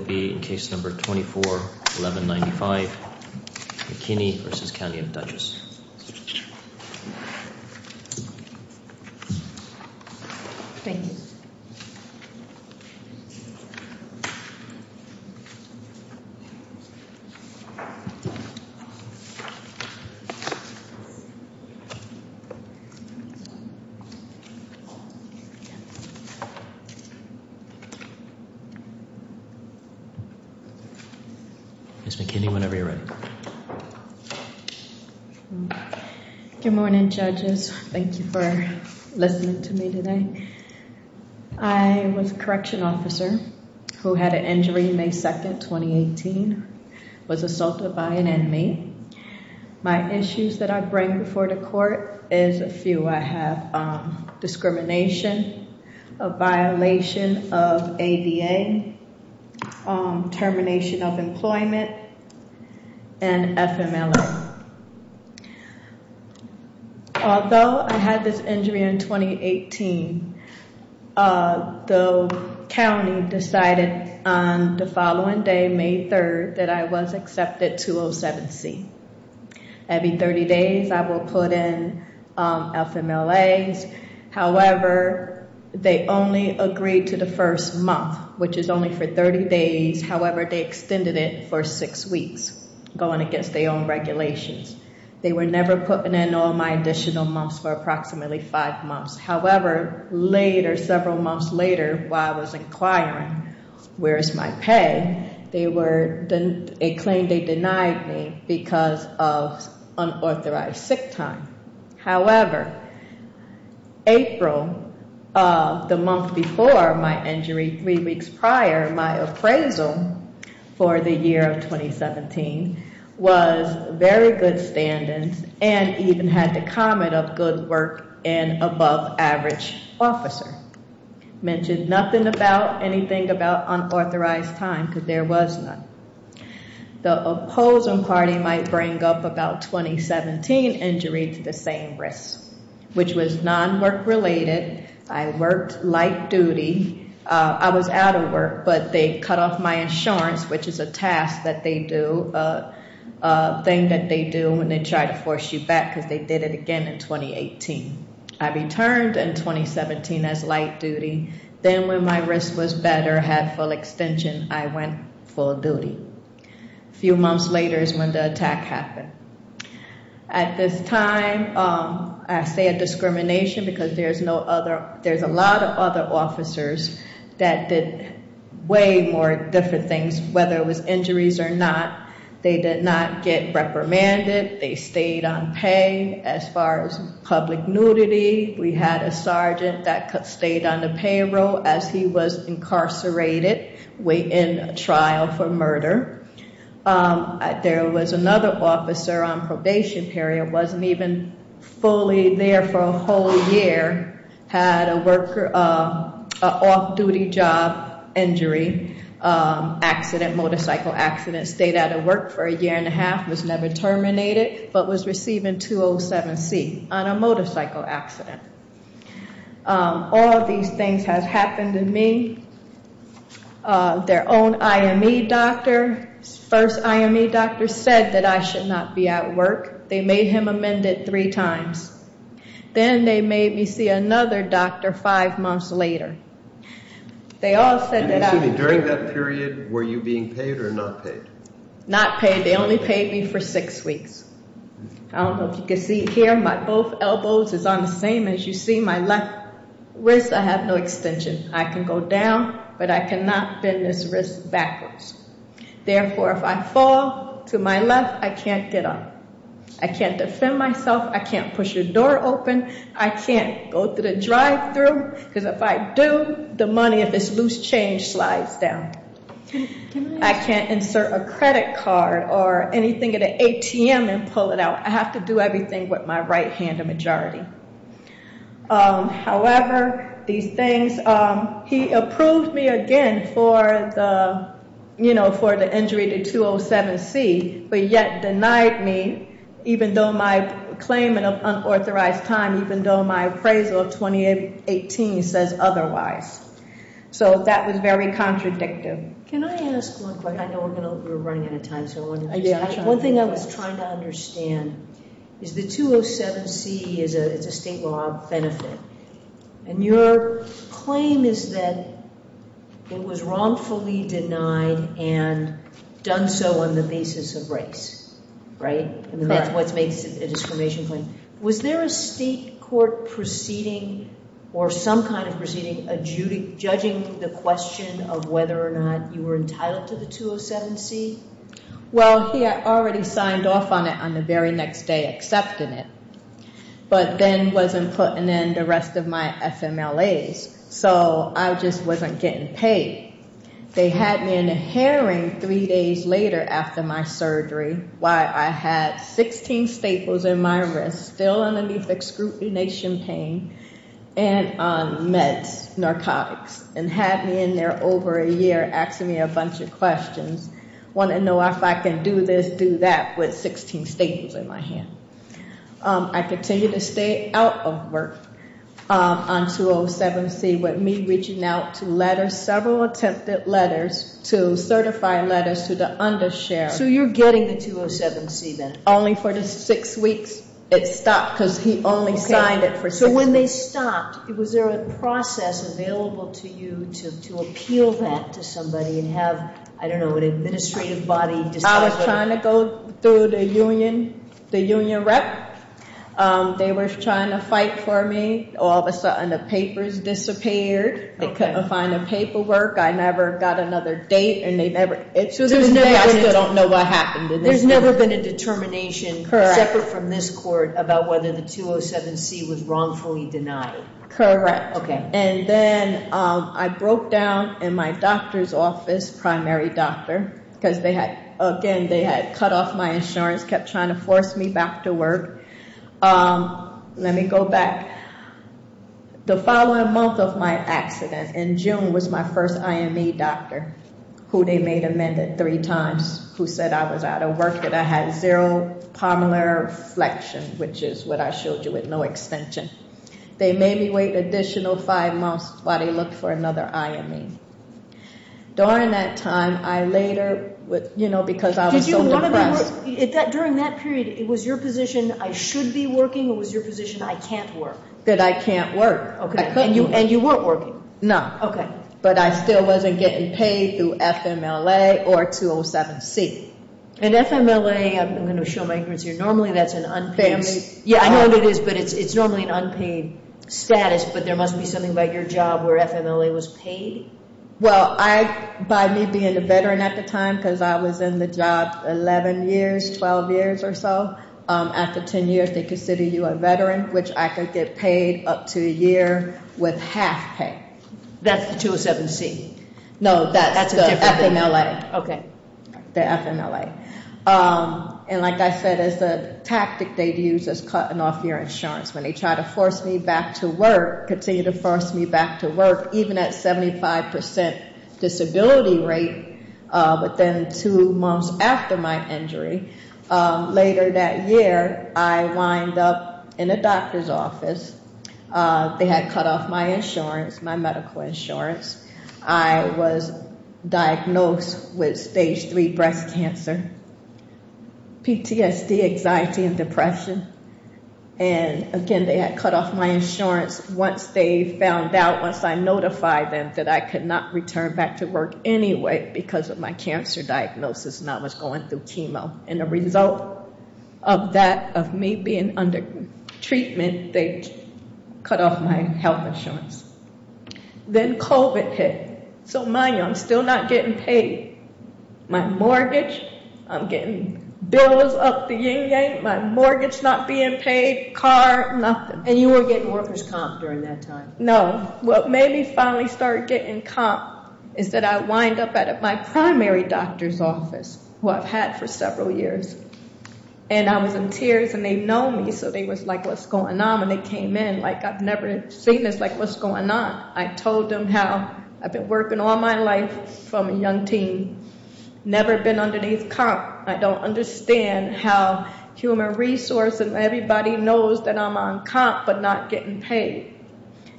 This bill will be in case number 24-1195, McKinney v. County of Dutchess. Ms. McKinney, whenever you're ready. Good morning, judges. Thank you for listening to me today. I was a correction officer who had an injury May 2, 2018. Was assaulted by an enemy. My issues that I bring before the court is a few. I have discrimination, a violation of ADA, termination of employment, and FMLA. Although I had this injury in 2018, the county decided on the following day, May 3, that I was accepted to 07C. Every 30 days, I will put in FMLAs. However, they only agreed to the first month, which is only for 30 days. However, they extended it for six weeks, going against their own regulations. They were never putting in all my additional months for approximately five months. However, several months later, while I was inquiring, where is my pay? They claimed they denied me because of unauthorized sick time. However, April, the month before my injury, three weeks prior, my appraisal for the year of 2017, was very good standings and even had the comment of good work and above average officer. Mentioned nothing about anything about unauthorized time because there was none. The opposing party might bring up about 2017 injury to the same risk, which was non-work related. I worked light duty. I was out of work, but they cut off my insurance, which is a task that they do, a thing that they do when they try to force you back because they did it again in 2018. I returned in 2017 as light duty. Then when my risk was better, had full extension, I went full duty. A few months later is when the attack happened. At this time, I say a discrimination because there's a lot of other officers that did way more different things, whether it was injuries or not. They did not get reprimanded. They stayed on pay. As far as public nudity, we had a sergeant that stayed on the payroll as he was incarcerated in a trial for murder. There was another officer on probation period. Wasn't even fully there for a whole year. Had a off-duty job injury, motorcycle accident. Stayed out of work for a year and a half. Was never terminated, but was receiving 207C on a motorcycle accident. All of these things have happened to me. Their own IME doctor, first IME doctor said that I should not be at work. They made him amend it three times. Then they made me see another doctor five months later. They all said that I... Excuse me, during that period, were you being paid or not paid? Not paid. They only paid me for six weeks. I don't know if you can see here. My both elbows is on the same as you see. My left wrist, I have no extension. I can go down, but I cannot bend this wrist backwards. Therefore, if I fall to my left, I can't get up. I can't defend myself. I can't push a door open. I can't go to the drive-thru, because if I do, the money of this loose change slides down. I can't insert a credit card or anything at an ATM and pull it out. I have to do everything with my right hand, a majority. However, these things... He approved me again for the injury to 207C, but yet denied me, even though my claimant of unauthorized time, even though my appraisal of 2018 says otherwise. That was very contradictive. Can I ask one question? I know we're running out of time. One thing I was trying to understand is the 207C is a state law benefit, and your claim is that it was wrongfully denied and done so on the basis of race, right? That's what makes it a discrimination claim. Was there a state court proceeding or some kind of proceeding judging the question of whether or not you were entitled to the 207C? Well, he had already signed off on it on the very next day, accepting it, but then wasn't putting in the rest of my FMLAs, so I just wasn't getting paid. They had me in a hearing three days later after my surgery, why I had 16 staples in my wrist still underneath excrutination pain and on meds, narcotics, and had me in there over a year asking me a bunch of questions, wanting to know if I can do this, do that with 16 staples in my hand. I continued to stay out of work on 207C with me reaching out to letters, several attempted letters to certify letters to the undershared. So you're getting the 207C then? Only for the six weeks it stopped because he only signed it for six weeks. So when they stopped, was there a process available to you to appeal that to somebody and have, I don't know, an administrative body decide what to do? I was trying to go through the union rep. They were trying to fight for me. All of a sudden the papers disappeared. They couldn't find the paperwork. I never got another date. So there's never been a determination separate from this court about whether the 207C was wrongfully denied. Correct. And then I broke down in my doctor's office, primary doctor, because, again, they had cut off my insurance, kept trying to force me back to work. Let me go back. The following month of my accident, in June, was my first IME doctor who they made amended three times, who said I was out of work, that I had zero pulmonary flexion, which is what I showed you with no extension. They made me wait an additional five months while they looked for another IME. During that time, I later, you know, because I was so depressed. During that period, was your position I should be working or was your position I can't work? That I can't work. And you weren't working? No. Okay. But I still wasn't getting paid through FMLA or 207C. And FMLA, I'm going to show my ignorance here, normally that's an unpaid. Yeah, I know what it is, but it's normally an unpaid status, but there must be something about your job where FMLA was paid? Well, by me being a veteran at the time, because I was in the job 11 years, 12 years or so, after 10 years they consider you a veteran, which I could get paid up to a year with half pay. That's the 207C? No, that's the FMLA. Okay. The FMLA. And like I said, it's a tactic they'd use as cutting off your insurance. When they try to force me back to work, continue to force me back to work, even at 75% disability rate, but then two months after my injury, later that year I wind up in a doctor's office. They had cut off my insurance, my medical insurance. I was diagnosed with stage 3 breast cancer, PTSD, anxiety and depression. And again, they had cut off my insurance once they found out, once I notified them that I could not return back to work anyway because of my cancer diagnosis and I was going through chemo. And the result of that, of me being under treatment, they cut off my health insurance. Then COVID hit. So mind you, I'm still not getting paid. My mortgage, I'm getting bills up the ying-yang. My mortgage not being paid, car, nothing. And you were getting workers' comp during that time? No. What made me finally start getting comp is that I wind up at my primary doctor's office, who I've had for several years. And I was in tears and they know me, so they was like, what's going on? When they came in, like, I've never seen this, like, what's going on? I told them how I've been working all my life from a young teen, never been underneath comp. I don't understand how human resources, everybody knows that I'm on comp but not getting paid.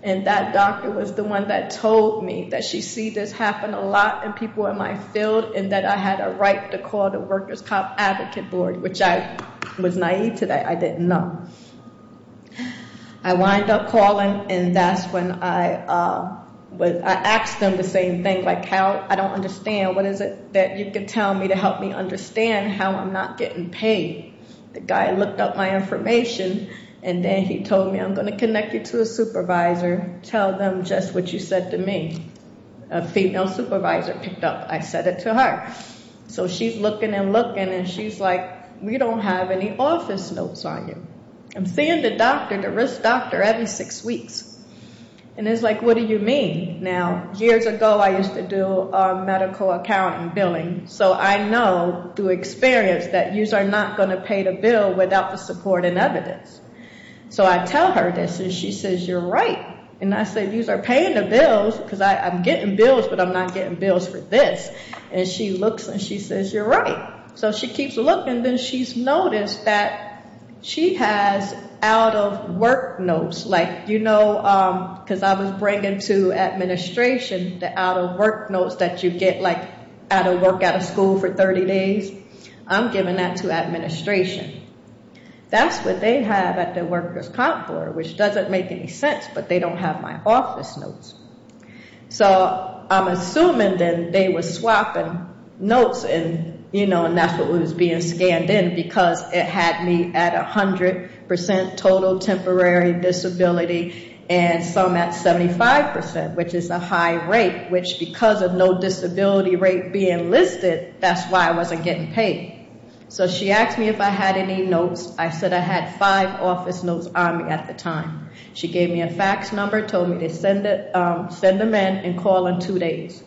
And that doctor was the one that told me that she see this happen a lot in people in my field and that I had a right to call the workers' comp advocate board, which I was naive to that. I didn't know. I wind up calling and that's when I asked them the same thing, like, how? I don't understand. What is it that you can tell me to help me understand how I'm not getting paid? The guy looked up my information and then he told me, I'm going to connect you to a supervisor. Tell them just what you said to me. A female supervisor picked up. I said it to her. So she's looking and looking and she's like, we don't have any office notes on you. I'm seeing the doctor, the risk doctor, every six weeks. And it's like, what do you mean? Now, years ago I used to do medical accounting billing, so I know through experience that yous are not going to pay the bill without the support and evidence. So I tell her this and she says, you're right. And I said, yous are paying the bills because I'm getting bills, but I'm not getting bills for this. And she looks and she says, you're right. So she keeps looking. Then she's noticed that she has out-of-work notes. Like, you know, because I was bringing to administration the out-of-work notes that you get, like, out of work, out of school for 30 days. I'm giving that to administration. That's what they have at the workers' comp board, which doesn't make any sense, but they don't have my office notes. So I'm assuming then they were swapping notes and, you know, and that's what was being scanned in because it had me at 100% total temporary disability and some at 75%, which is a high rate, which because of no disability rate being listed, that's why I wasn't getting paid. So she asked me if I had any notes. I said I had five office notes on me at the time. She gave me a fax number, told me to send them in and call in two days.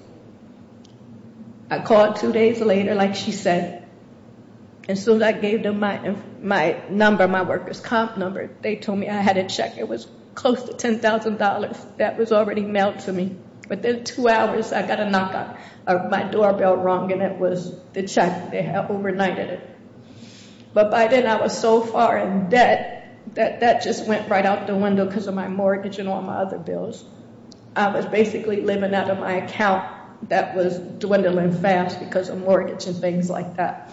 I called two days later, like she said, and soon as I gave them my number, my workers' comp number, they told me I had a check. It was close to $10,000. That was already mailed to me. Within two hours, I got a knock on my doorbell rung, and it was the check. They overnighted it. But by then, I was so far in debt that that just went right out the window because of my mortgage and all my other bills. I was basically living out of my account that was dwindling fast because of mortgage and things like that.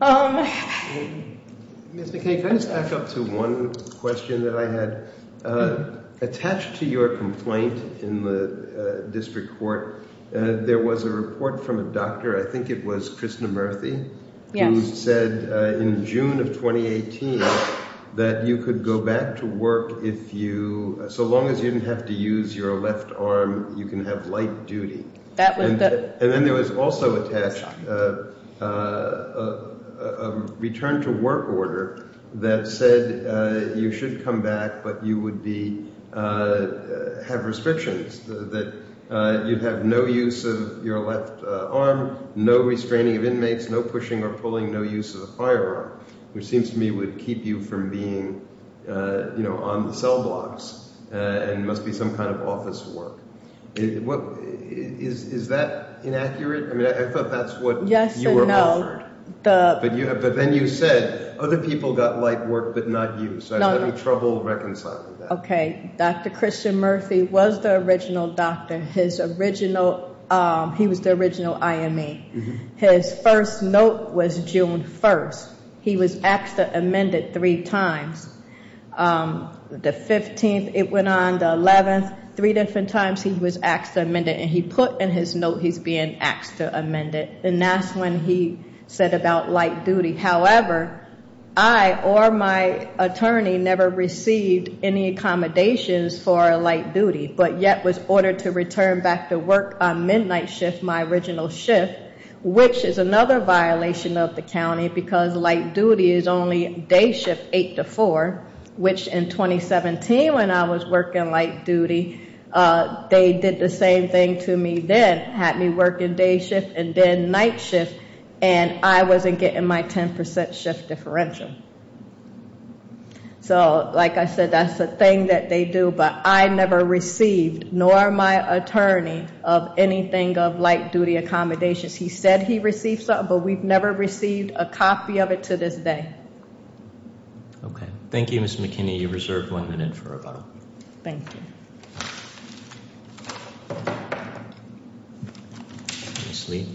Ms. McKay, can I just back up to one question that I had? Attached to your complaint in the district court, there was a report from a doctor. I think it was Kristin Murthy who said in June of 2018 that you could go back to work if you – so long as you didn't have to use your left arm, you can have light duty. And then there was also attached a return-to-work order that said you should come back but you would be – have restrictions, that you'd have no use of your left arm, no restraining of inmates, no pushing or pulling, no use of a firearm, which seems to me would keep you from being on the cell blocks and must be some kind of office work. Is that inaccurate? I mean, I thought that's what you were offered. But then you said other people got light work but not you, so I was having trouble reconciling that. Okay. Dr. Christian Murthy was the original doctor. His original – he was the original IME. His first note was June 1st. He was actually amended three times. The 15th, it went on, the 11th, three different times he was asked to amend it and he put in his note he's being asked to amend it. And that's when he said about light duty. However, I or my attorney never received any accommodations for light duty, but yet was ordered to return back to work on midnight shift, my original shift, which is another violation of the county because light duty is only day shift 8 to 4, which in 2017 when I was working light duty, they did the same thing to me then, had me work in day shift and then night shift, and I wasn't getting my 10% shift differential. So, like I said, that's the thing that they do, but I never received, nor my attorney, of anything of light duty accommodations. He said he received some, but we've never received a copy of it to this day. Okay. Thank you, Ms. McKinney. You're reserved one minute for rebuttal. Thank you. Ms. Lee.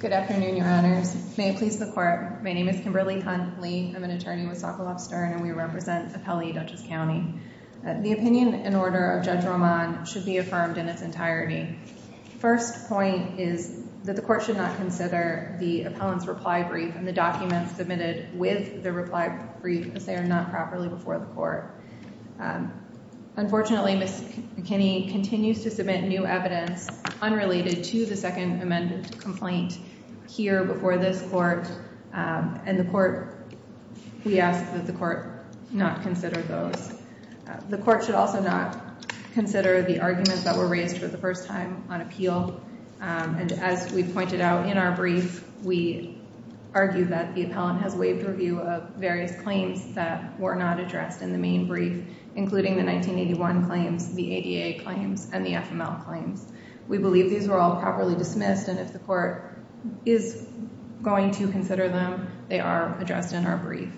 Good afternoon, your honors. May it please the court. My name is Kimberly Hunt Lee. I'm an attorney with Sokoloff Stern, and we represent Appellee Dutchess County. The opinion in order of Judge Roman should be affirmed in its entirety. First point is that the court should not consider the appellant's reply brief and the documents submitted with the reply brief, as they are not required. Unfortunately, Ms. McKinney continues to submit new evidence unrelated to the second amended complaint here before this court, and the court, we ask that the court not consider those. The court should also not consider the arguments that were raised for the first time on appeal, and as we pointed out in our brief, we argue that the appellant has waived review of various claims that were not addressed in the main brief, including the 1981 claims, the ADA claims, and the FML claims. We believe these were all properly dismissed, and if the court is going to consider them, they are addressed in our brief.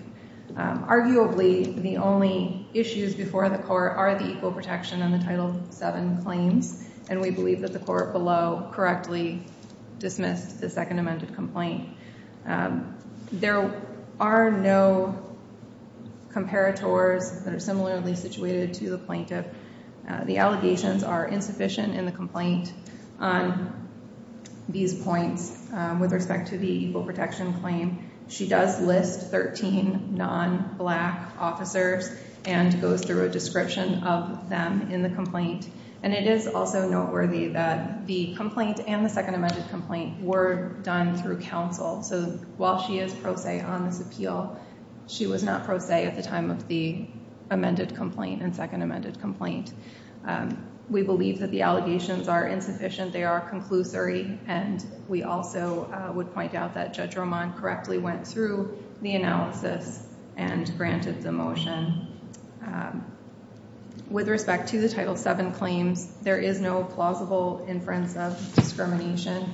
Arguably, the only issues before the court are the equal protection on the Title VII claims, and we believe that the court below correctly dismissed the second amended complaint. There are no comparators that are similarly situated to the plaintiff. The allegations are insufficient in the complaint on these points with respect to the equal protection claim. She does list 13 non-black officers and goes through a description of them in the complaint, and it is also noteworthy that the complaint and the second amended complaint were done through counsel, so while she is pro se on this appeal, she was not pro se at the time of the amended complaint and second amended complaint. We believe that the allegations are insufficient. They are conclusory, and we also would point out that Judge Roman correctly went through the analysis and granted the motion. With respect to the Title VII claims, there is no plausible inference of discrimination.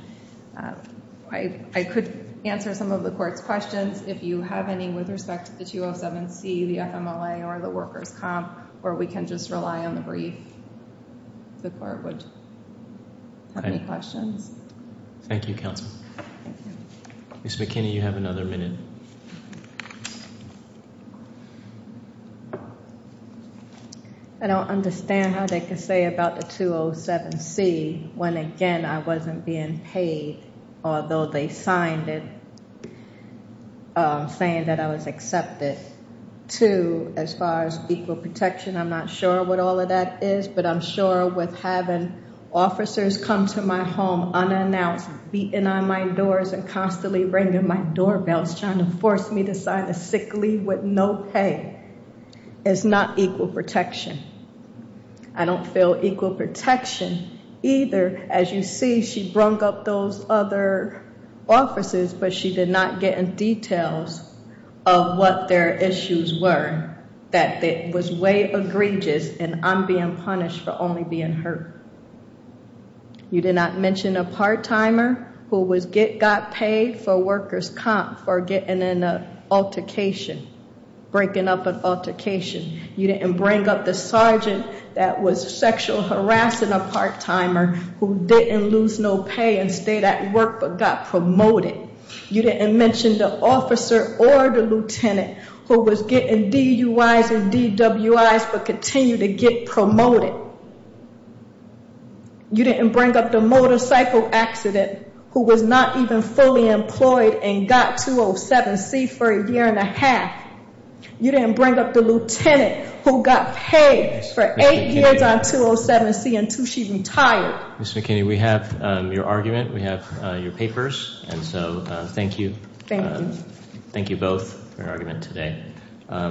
I could answer some of the court's questions. If you have any with respect to the 207C, the FMLA, or the workers' comp, or we can just rely on the brief, the court would have any questions. Thank you, counsel. Ms. McKinney, you have another minute. I don't understand how they can say about the 207C when, again, I wasn't being paid, although they signed it saying that I was accepted. Two, as far as equal protection, I'm not sure what all of that is, but I'm sure with having officers come to my home unannounced, beating on my doors, and constantly ringing my doorbells, trying to force me to sign a sick leave with no pay, it's not equal protection. I don't feel equal protection either. As you see, she brung up those other officers, but she did not get in details of what their issues were, that it was way egregious and I'm being punished for only being hurt. You did not mention a part-timer who got paid for workers' comp for getting in an altercation, breaking up an altercation. You didn't bring up the sergeant that was sexually harassing a part-timer who didn't lose no pay and stayed at work but got promoted. You didn't mention the officer or the lieutenant who was getting DUIs and DWIs but continued to get promoted. You didn't bring up the motorcycle accident who was not even fully employed and got 207C for a year and a half. You didn't bring up the lieutenant who got paid for eight years on 207C until she retired. Ms. McKinney, we have your argument, we have your papers, and so thank you. Thank you. Thank you both for your argument today.